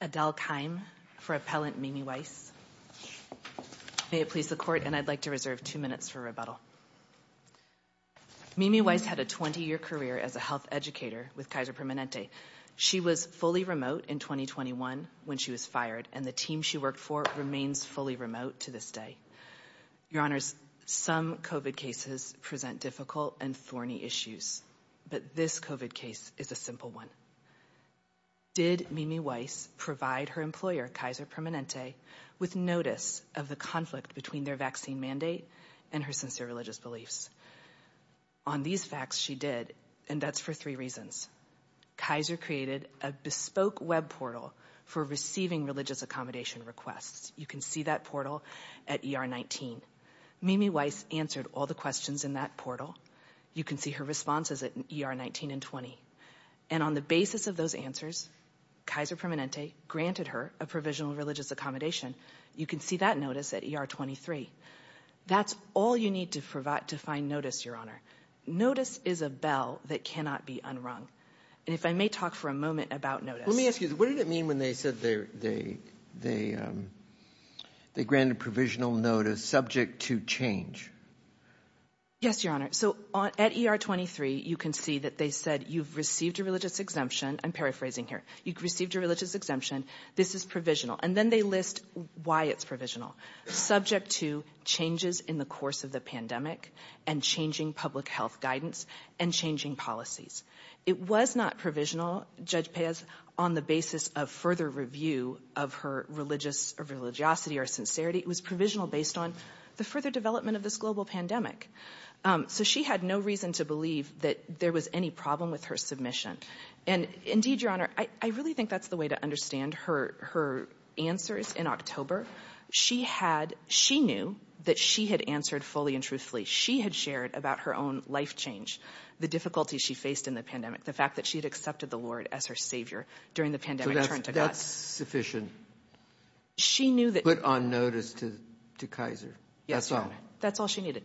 Adele Keim for Appellant Mimi Weiss. May it please the Court, and I'd like to reserve two minutes for rebuttal. Mimi Weiss had a 20-year career as a health educator with Kaiser Permanente. She was fully remote in 2021 when she was fired, and the team she worked for remains fully remote to this day. Your Honors, some COVID cases present difficult and thorny issues, but this COVID case is a simple one. Did Mimi Weiss provide her employer, Kaiser Permanente, with notice of the conflict between their vaccine mandate and her sincere religious beliefs? On these facts, she did, and that's for three reasons. Kaiser created a bespoke web portal for receiving religious accommodation requests. You can see that portal at ER 19. Mimi Weiss answered all the questions in that portal. You can see her responses at ER 19 and 20, and on the basis of those answers, Kaiser Permanente granted her a provisional religious accommodation. You can see that notice at ER 23. That's all you need to provide to find notice, Your Honor. Notice is a bell that cannot be unrung, and if I may talk for a moment about notice. Let me ask you, what did it mean when they said they granted provisional notice subject to change? Yes, Your Honor. So at ER 23, you can see that they said you've received a religious exemption. I'm paraphrasing here. You've received a religious exemption. This is provisional, and then they list why it's provisional. Subject to changes in the course of the pandemic and changing public health guidance and changing policies. It was not provisional, Judge Pez, on the basis of further review of her religiosity or sincerity. It was provisional based on the further development of this global pandemic. So she had no reason to believe that there was any problem with her submission, and indeed, Your Honor, I really think that's the way to understand her answers in October. She knew that she had answered fully and truthfully. She had shared about her own life change, the difficulties she faced in the pandemic, the fact that she had accepted the Lord as her Savior during the pandemic. So that's sufficient. She knew that. Put on notice to Kaiser. Yes, Your Honor. That's all she needed.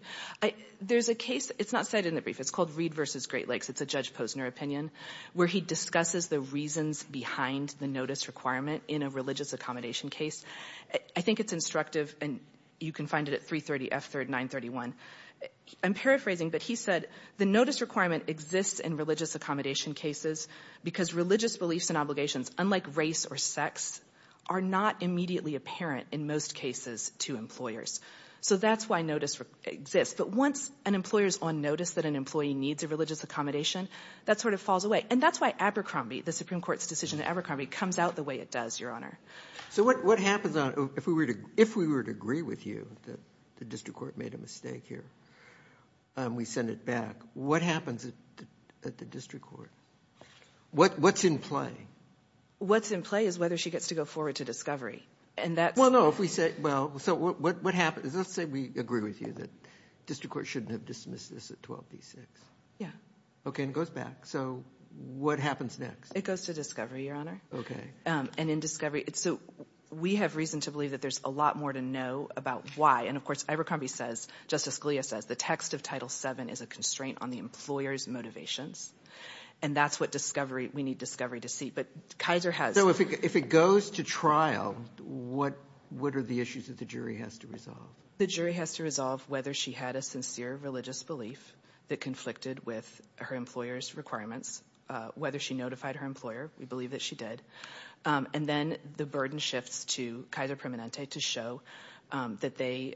There's a case. It's not cited in the brief. It's called Reed versus Great Lakes. It's a Judge Posner opinion where he discusses the reasons behind the notice requirement in a religious accommodation case. I think it's instructive, and you can find it at 330 F3rd 931. I'm paraphrasing, but he said the notice requirement exists in religious accommodation cases because religious beliefs and obligations, unlike race or sex, are not immediately apparent in most cases to employers. So that's why notice exists. But once an employer is on notice that an employee needs a religious accommodation, that sort of falls away. And that's why Abercrombie, the Supreme Court's decision in Abercrombie, comes out the way it does, Your Honor. So what happens if we were to agree with you that the district court made a mistake here and we send it back? What happens at the district court? What's in play? What's in play is whether she gets to go forward to discovery. Well, no. So let's say we agree with you that district court shouldn't have dismissed this at Yeah. Okay. And it goes back. So what happens next? It goes to discovery, Your Honor. Okay. And in discovery, so we have reason to believe that there's a lot more to know about why. And of course, Abercrombie says, Justice Scalia says, the text of Title VII is a constraint on the employer's motivations. And that's what discovery, we need discovery to see. But Kaiser has. So if it goes to trial, what are the issues that the jury has to resolve? The jury has to resolve whether she had a sincere religious belief that conflicted with her employer's requirements, whether she notified her employer. We believe that she did. And then the burden shifts to Kaiser Permanente to show that they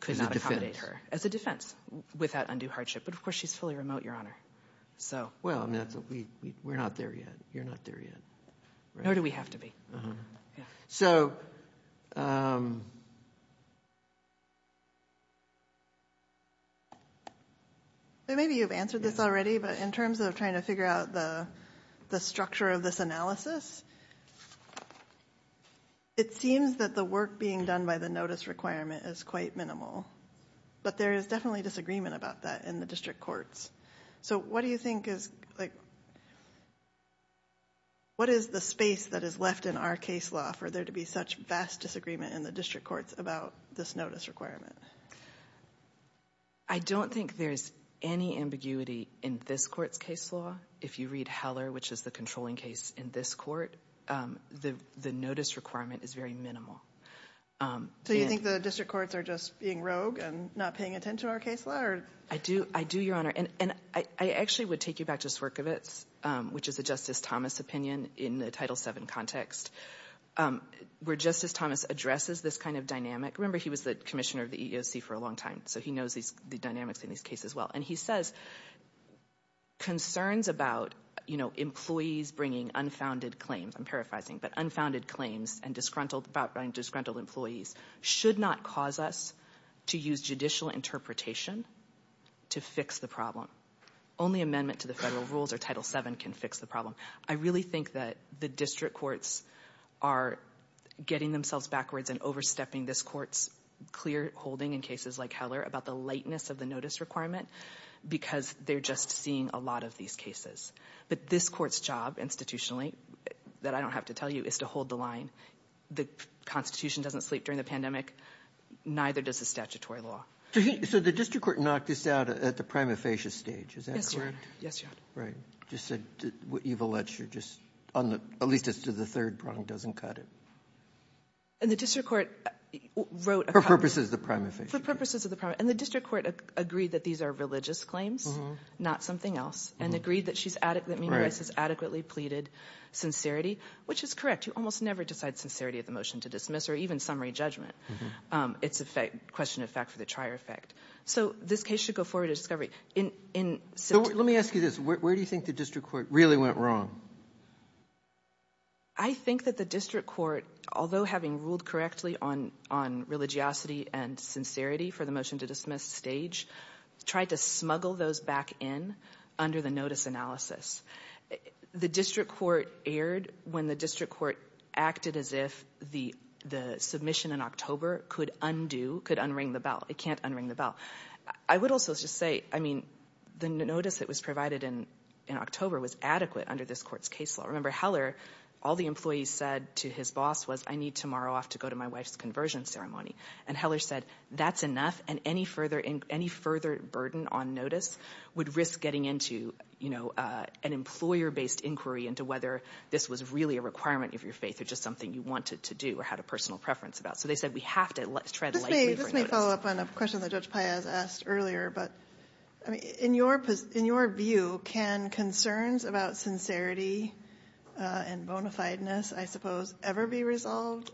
could not accommodate her as a defense without undue hardship. But of course, she's fully remote, Your Honor. So. Well, we're not there yet. You're not there yet. Maybe you've answered this already, but in terms of trying to figure out the structure of this analysis, it seems that the work being done by the notice requirement is quite minimal. But there is definitely disagreement about that in the district courts. So what do you think is like, what is the space that is left in our case law for there to be such vast disagreement in the district courts about this notice requirement? I don't think there's any ambiguity in this court's case law. If you read Heller, which is the controlling case in this court, the notice requirement is very minimal. So you think the district courts are just being rogue and not paying attention to our case law? I do. I do, Your Honor. And I actually would take you back to Swerkovitz, which is a Justice Thomas opinion in the Title VII context, where Justice Thomas addresses this kind of dynamic. Remember, he was the commissioner of the EEOC for a long time, so he knows the dynamics in these cases well. And he says, concerns about, you know, employees bringing unfounded claims, I'm paraphrasing, but unfounded claims and disgruntled employees should not cause us to use judicial interpretation to fix the problem. Only amendment to the federal rules or Title VII can fix the problem. I really think that the district courts are getting themselves backwards and overstepping this court's clear holding in cases like Heller about the lightness of the notice requirement, because they're just seeing a lot of these cases. But this court's job institutionally, that I don't have to tell you, is to hold the line. The Constitution doesn't sleep during the pandemic. Neither does the statutory law. So the district court knocked this out at the prima facie stage. Is that correct? Yes, Your Honor. Yes, Your Honor. Just said what you've alleged, at least as to the third prong, doesn't cut it. And the district court wrote... For purposes of the prima facie. For purposes of the prima... And the district court agreed that these are religious claims, not something else, and agreed that Meena Rice has adequately pleaded sincerity, which is correct. You almost never decide sincerity of the motion to dismiss or even summary judgment. It's a question of fact for the trier effect. So this case should go forward to discovery. So let me ask you this. Where do you think the district court really went wrong? I think that the district court, although having ruled correctly on religiosity and sincerity for the motion to dismiss stage, tried to smuggle those back in under the notice analysis. The district court erred when the district court acted as if the submission in October could undo, could unring the bell. It can't unring the bell. I would also just say, I mean, the notice that was provided in October was adequate under this court's case law. Remember, Heller, all the employees said to his boss was, I need tomorrow off to go to my wife's conversion ceremony. And Heller said, that's enough. And any further burden on notice would risk getting into an employer-based inquiry into whether this was really a requirement of your faith or just something you wanted to do or had a personal preference about. They said, we have to tread lightly for notice. Let me follow up on a question that Judge Paez asked earlier. In your view, can concerns about sincerity and bona fide-ness, I suppose, ever be resolved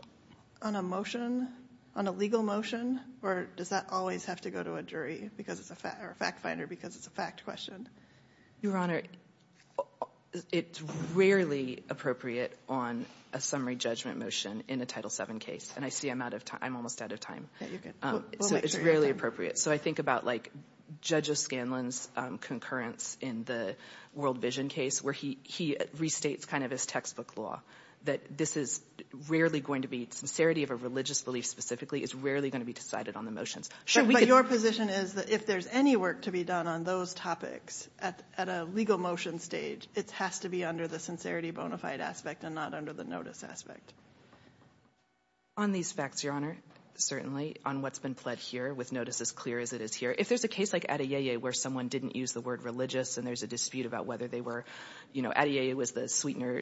on a motion, on a legal motion, or does that always have to go to a jury or a fact finder because it's a fact question? Your Honor, it's rarely appropriate on a summary judgment motion in a Title VII case. And I see I'm almost out of time. So it's rarely appropriate. So I think about, like, Judge O'Scanlan's concurrence in the World Vision case where he restates kind of his textbook law that this is rarely going to be, sincerity of a religious belief specifically, is rarely going to be decided on the motions. But your position is that if there's any work to be done on those topics at a legal motion stage, it has to be under the sincerity bona fide aspect and not under the notice aspect. On these facts, your Honor, certainly, on what's been pled here with notice as clear as it is here, if there's a case like Adeyeye where someone didn't use the word religious and there's a dispute about whether they were, you know, Adeyeye was the sweetener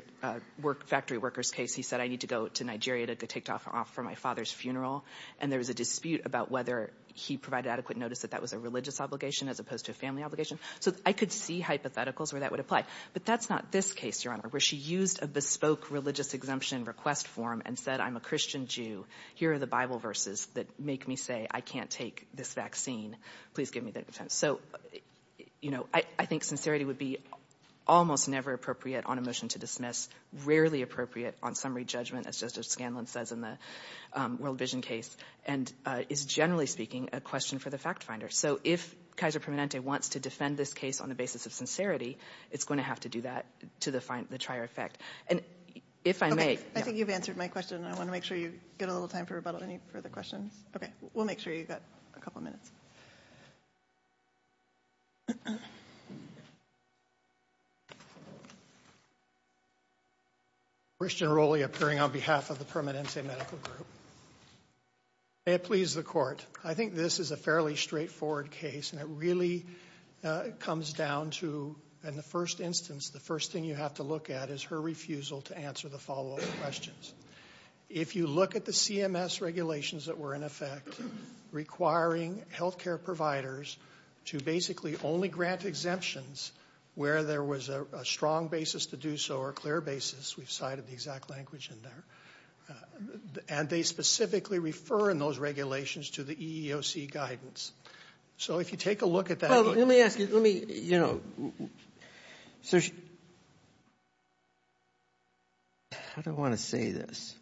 factory workers case. He said, I need to go to Nigeria to take off for my father's funeral. And there was a dispute about whether he provided adequate notice that that was a religious obligation as opposed to a family obligation. So I could see hypotheticals where that would apply. But that's not this case, Your Honor, where she used a bespoke religious exemption request form and said, I'm a Christian Jew. Here are the Bible verses that make me say I can't take this vaccine. Please give me that. So, you know, I think sincerity would be almost never appropriate on a motion to dismiss, rarely appropriate on summary judgment, as Justice Scanlon says in the World Vision case, and is generally speaking a question for the fact finder. So if Kaiser wants to defend this case on the basis of sincerity, it's going to have to do that to the trier effect. And if I may, I think you've answered my question. I want to make sure you get a little time for rebuttal. Any further questions? Okay. We'll make sure you've got a couple of minutes. Christian Roli appearing on behalf of the Permanente Medical Group. May it please the court. I think this is a fairly straightforward case, and it really comes down to, in the first instance, the first thing you have to look at is her refusal to answer the follow-up questions. If you look at the CMS regulations that were in effect requiring health care providers to basically only grant exemptions where there was a strong basis to do so or a clear basis, we've cited the exact language in there, and they specifically refer in those regulations to the EEOC guidance. So if you take a look at that. Well, let me ask you, let me, you know, so she, how do I want to say this?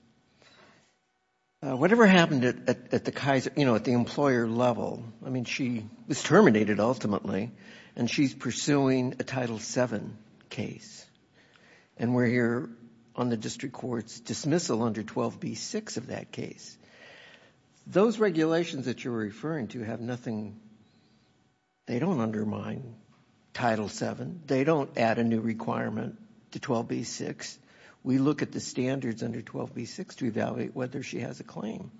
Whatever happened at the Kaiser, you know, at the employer level, I mean, she was terminated ultimately, and she's pursuing a Title VII case, and we're here on the district court's dismissal under 12b6 of that case. Those regulations that you're referring to have nothing, they don't undermine Title VII. They don't add a new requirement to 12b6. We look at the standards under 12b6 to evaluate whether she has a claim.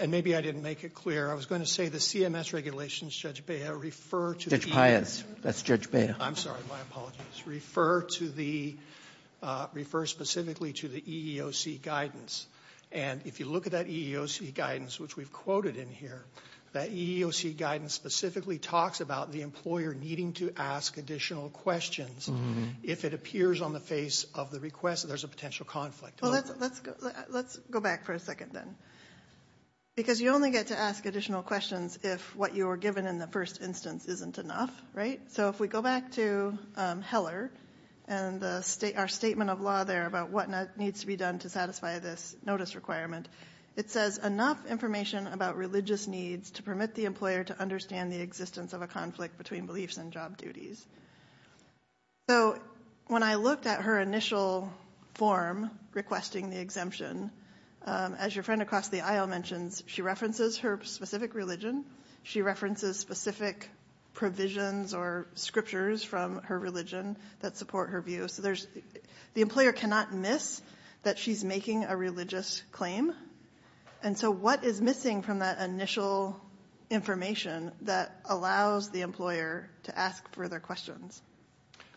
And maybe I didn't make it clear. I was going to say the CMS regulations, Judge Beha, refer to the EEOC. Judge Paez, that's Judge Beha. I'm sorry, my apologies. Refer to the, refer specifically to the EEOC guidance. And if you look at that EEOC guidance, which we've quoted in here, that EEOC guidance specifically talks about the employer needing to ask additional questions if it appears on the face of the request that there's a potential conflict. Well, let's go back for a second then. Because you only get to ask additional questions if what you were given in the first instance isn't enough, right? So if we go back to Heller and the state, our statement of law there about what needs to be done to satisfy this notice requirement, it says enough information about religious needs to permit the employer to understand the existence of a conflict between beliefs and job duties. So when I looked at her initial form requesting the exemption, as your friend across the aisle mentions, she references her specific religion. She references specific provisions or scriptures from her religion that support her view. So there's, the employer cannot miss that she's making a religious claim. And so what is missing from that initial information that allows the employer to ask further questions?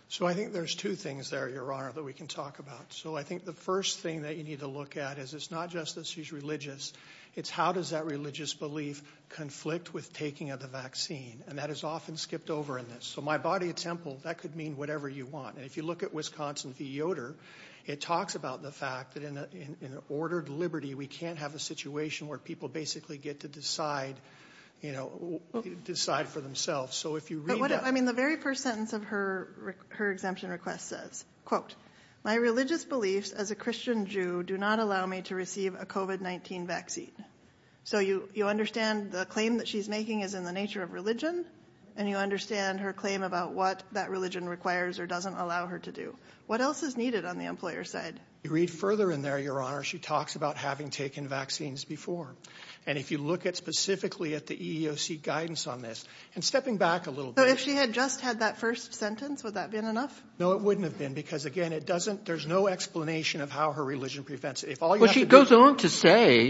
So I think there's two things there, your honor, that we can talk about. So I think the first thing that you need to look at is it's not just that she's religious, it's how does that religious belief conflict with taking of the vaccine? And that is often skipped over in this. So my body of temple, that could mean whatever you want. And if you look at Wisconsin v. Yoder, it talks about the fact that in an ordered liberty, we can't have a situation where people basically get to decide for themselves. So if you read that- I mean, the very first sentence of her exemption request says, quote, my religious beliefs as a Christian Jew do not allow me to receive a COVID-19 vaccine. So you understand the claim that she's making is in the nature of religion, and you understand her claim about what that religion requires or doesn't allow her to do. What else is needed on the employer side? You read further in there, your honor, she talks about having taken vaccines before. And if you look at specifically at the EEOC guidance on this, and stepping back a little bit- So if she had just had that first sentence, would that have been enough? No, it wouldn't have been, because again, it doesn't- there's no explanation of how her religion prevents- Well, she goes on to say,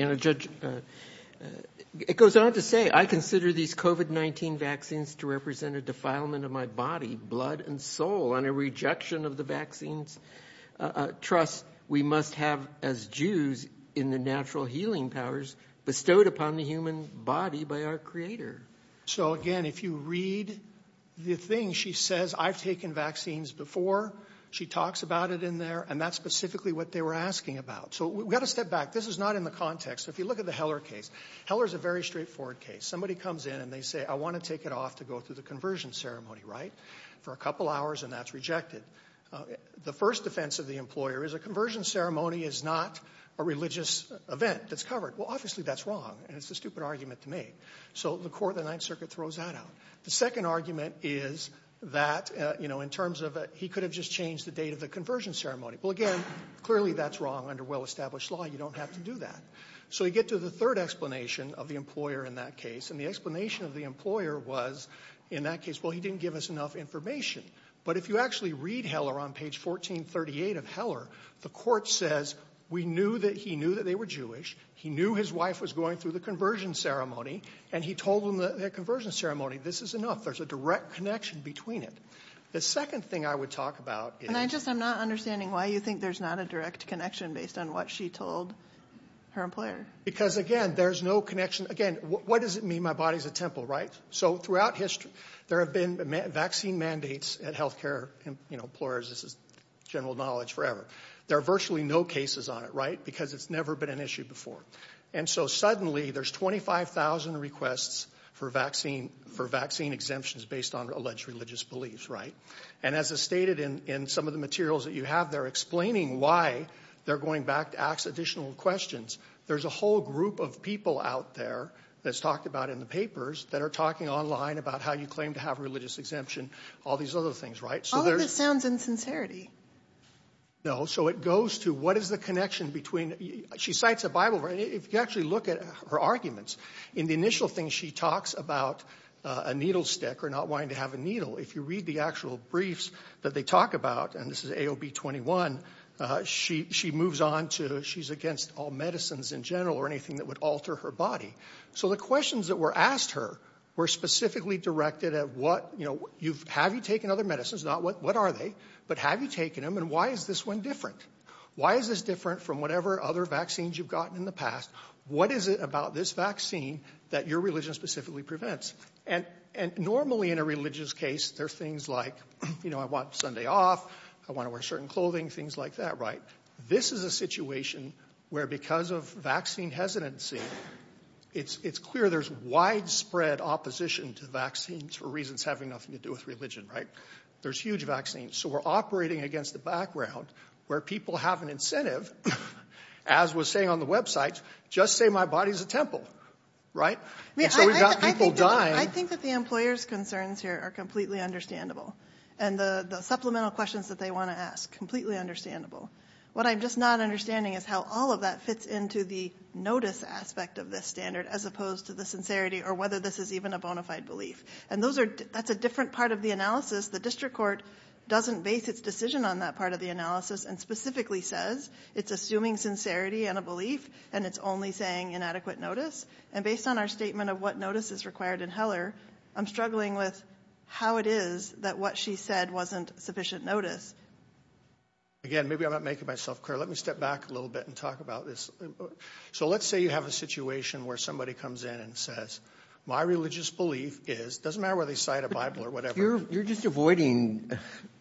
it goes on to say, I consider these COVID-19 vaccines to represent a defilement of my body, blood and soul, and a rejection of the vaccines trust we must have as Jews in the natural healing powers bestowed upon the human body by our creator. So again, if you read the thing she says, I've taken vaccines before, she talks about it in there, and that's specifically what they were asking about. So we've got to step back. This is not in the context. If you look at the Heller case, Heller is a very straightforward case. Somebody comes in and they say, I want to take it off to go through the conversion ceremony, right? For a couple hours, and that's rejected. The first defense of the employer is a conversion ceremony is not a religious event that's covered. Well, obviously that's wrong, and it's a stupid argument to make. So the court of the Ninth Circuit throws that out. The second argument is that, you know, in terms of he could have just changed the date of the conversion ceremony. Well, again, clearly that's wrong under well-established law. You don't have to do that. So we get to the third explanation of the employer in that case, and the explanation of the employer was in that case, well, he didn't give us enough information. But if you actually read Heller on page 1438 of Heller, the court says, we knew that he knew that they were Jewish. He knew his wife was going through the conversion ceremony, and he told them the conversion ceremony. This is enough. There's a direct connection between it. The second thing I would talk about is... And I just, I'm not understanding why you think there's not a direct connection based on what she told her employer. Because, again, there's no connection. Again, what does it mean my body's a temple, right? So throughout history, there have been vaccine mandates at healthcare, you know, employers. This is on it, right? Because it's never been an issue before. And so suddenly there's 25,000 requests for vaccine exemptions based on alleged religious beliefs, right? And as is stated in some of the materials that you have, they're explaining why they're going back to ask additional questions. There's a whole group of people out there that's talked about in the papers that are talking online about how you claim to have religious exemption, all these other things, right? All of this sounds insincerity. No. So it goes to what is the connection between... She cites a Bible, right? If you actually look at her arguments, in the initial thing she talks about a needle stick or not wanting to have a needle. If you read the actual briefs that they talk about, and this is AOB 21, she moves on to she's against all medicines in general or anything that would alter her body. So the questions that were asked her were specifically directed at what, have you taken other medicines, not what are they, but have you taken them and why is this one different? Why is this different from whatever other vaccines you've gotten in the past? What is it about this vaccine that your religion specifically prevents? And normally in a religious case, there's things like, I want Sunday off, I want to wear certain clothing, things like that, right? This is a situation where because of vaccine hesitancy, it's clear there's widespread opposition to vaccines for reasons having nothing to do with religion, right? There's huge vaccines. So we're operating against the background where people have an incentive, as was saying on the website, just say my body's a temple, right? And so we've got people dying. I think that the employer's concerns here are completely understandable. And the supplemental questions that they want to ask, completely understandable. What I'm just not understanding is how all of that fits into the notice aspect of this standard, as opposed to the sincerity or whether this is even a bona fide belief. And that's a different part of the analysis. The district court doesn't base its decision on that part of the analysis and specifically says it's assuming sincerity and a belief, and it's only saying inadequate notice. And based on our statement of what notice is required in Heller, I'm struggling with how it is that what she said wasn't sufficient notice. Again, maybe I'm not making myself clear. Let me step back a little bit and talk about this. So let's say you have a situation where somebody comes in and says, my religious belief is, doesn't matter whether they cite a Bible or whatever. You're just avoiding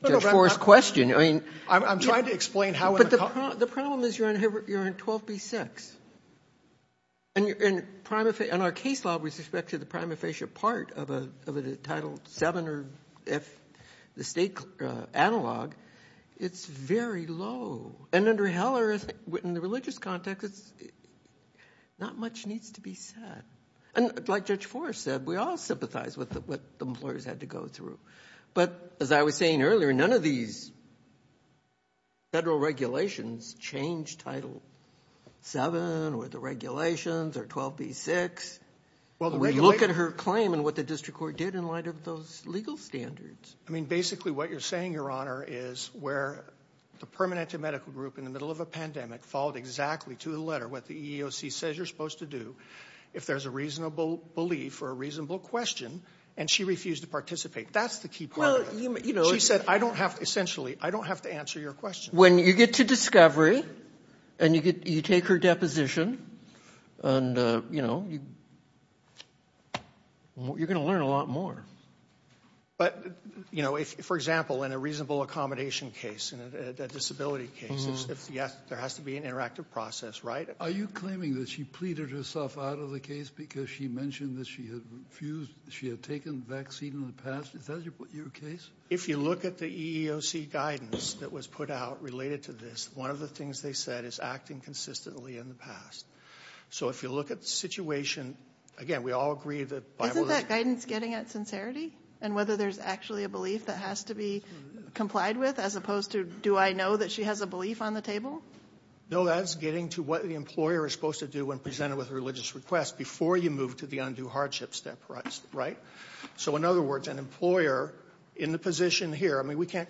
Judge Forrest's question. I'm trying to explain how in the context. The problem is you're in 12b6. And our case law with respect to the prima facie part of a title seven or the state analog, it's very low. And under Heller, in the religious context, not much needs to be said. And like Judge Forrest said, we all sympathize with what the employers had to go through. But as I was saying earlier, none of these federal regulations change title seven or the regulations or 12b6. We look at her claim and what the district court did in light of those legal standards. I mean, basically what you're saying, Your Honor, is where the Permanente Medical Group in the middle of a pandemic followed exactly to the letter what the EEOC says you're supposed to do if there's a reasonable belief or a reasonable question, and she refused to participate. That's the key part of it. She said, I don't have to answer your question. When you get to discovery and you take her deposition, you're going to learn a lot more. But for example, in a reasonable accommodation case, in a disability case, there has to be an interactive process, right? Are you claiming that she pleaded herself out of the case because she mentioned that she had refused, she had taken the vaccine in the past? Is that your case? If you look at the EEOC guidance that was put out related to this, one of the things they said is acting consistently in the past. So if you look at the situation, again, we all agree that... Isn't that guidance getting at sincerity and whether there's actually a belief that has to be complied with as opposed to do I know that she has a belief on the table? No, that's getting to what the employer is supposed to do when presented with a religious request before you move to the undue hardship step, right? So in other words, an employer in the position here, I mean, we can't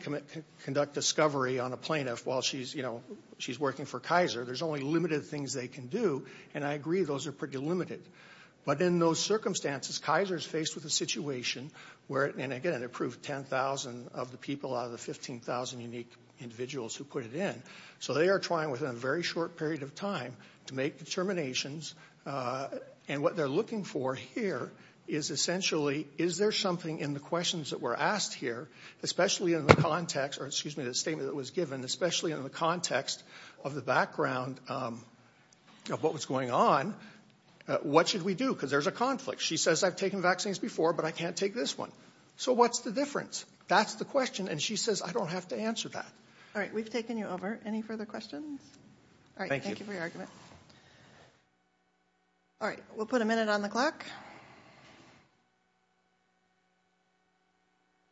conduct discovery on a plaintiff while she's working for Kaiser. There's only limited things they can do. And I agree, those are pretty limited. But in those circumstances, Kaiser is faced with a situation where, and again, approved 10,000 of the people out of the 15,000 unique individuals who put it in. So they are trying within a very short period of time to make determinations. And what they're looking for here is essentially, is there something in the questions that were asked here, especially in the context, or excuse me, the statement that was given, especially in the context of the background of what was going on, what should we do? Because there's a conflict. She says, I've taken vaccines before, but I can't take this one. So what's the difference? That's the question. And she says, I don't have to answer that. All right, we've taken you over. Any further questions? All right, thank you for your argument. All right, we'll put a minute on the clock.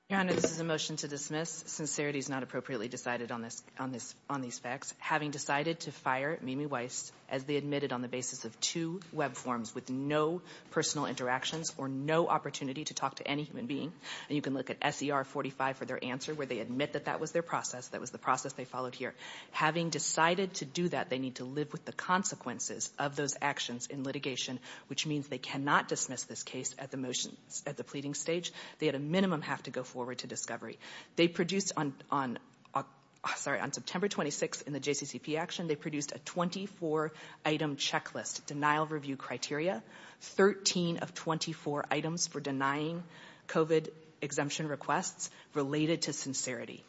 Your Honor, this is a motion to dismiss. Sincerity is not appropriately decided on these facts. Having decided to fire Mimi Weiss as they admitted on the basis of two web forms with no personal interactions or no opportunity to talk to any human being, and you can look at SER 45 for their answer, where they admit that that was their process, that was the process they followed here. Having decided to do that, they need to live with the consequences of those actions in litigation, which means they cannot dismiss this case at the pleading stage. They at a minimum have to go forward to discovery. They produced on September 26th in the JCCP action, they produced a 24 item checklist, denial review criteria, 13 of 24 items for denying COVID exemption requests related to sincerity.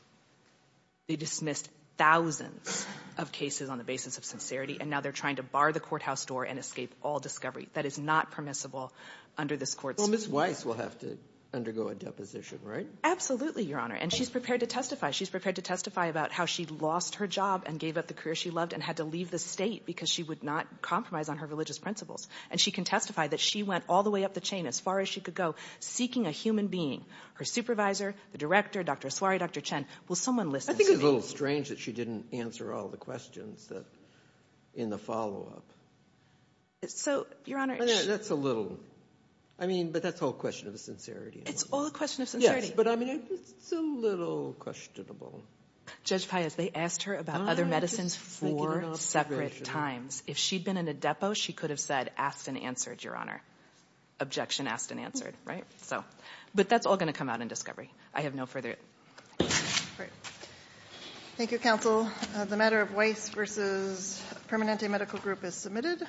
They dismissed thousands of cases on the basis of sincerity, and now they're trying to bar the courthouse door and escape all discovery. That is not permissible under this court. Well, Ms. Weiss will have to undergo a deposition, right? Absolutely, Your Honor. And she's prepared to testify. She's prepared to testify about how she lost her job and gave up the career she loved and had to leave the state because she would not compromise on her religious principles. And she can testify that she went all the way up the chain as far as she could go seeking a human being, her supervisor, the director, Dr. Aswari, Dr. Chen. Will someone listen to me? I think it's a little strange that she didn't answer all the questions in the follow-up. So, Your Honor... That's a little... I mean, but that's the whole question of the sincerity. It's all a question of sincerity. Yes, but I mean, it's a little questionable. Judge Paez, they asked her about other medicines four separate times. If she'd been in a depo, she could have said, asked and answered, Your Honor. Objection, asked and answered, right? So, but that's all going to come out in discovery. I have no further... Great. Thank you, counsel. The matter of Weiss v. Permanente Medical Group is submitted.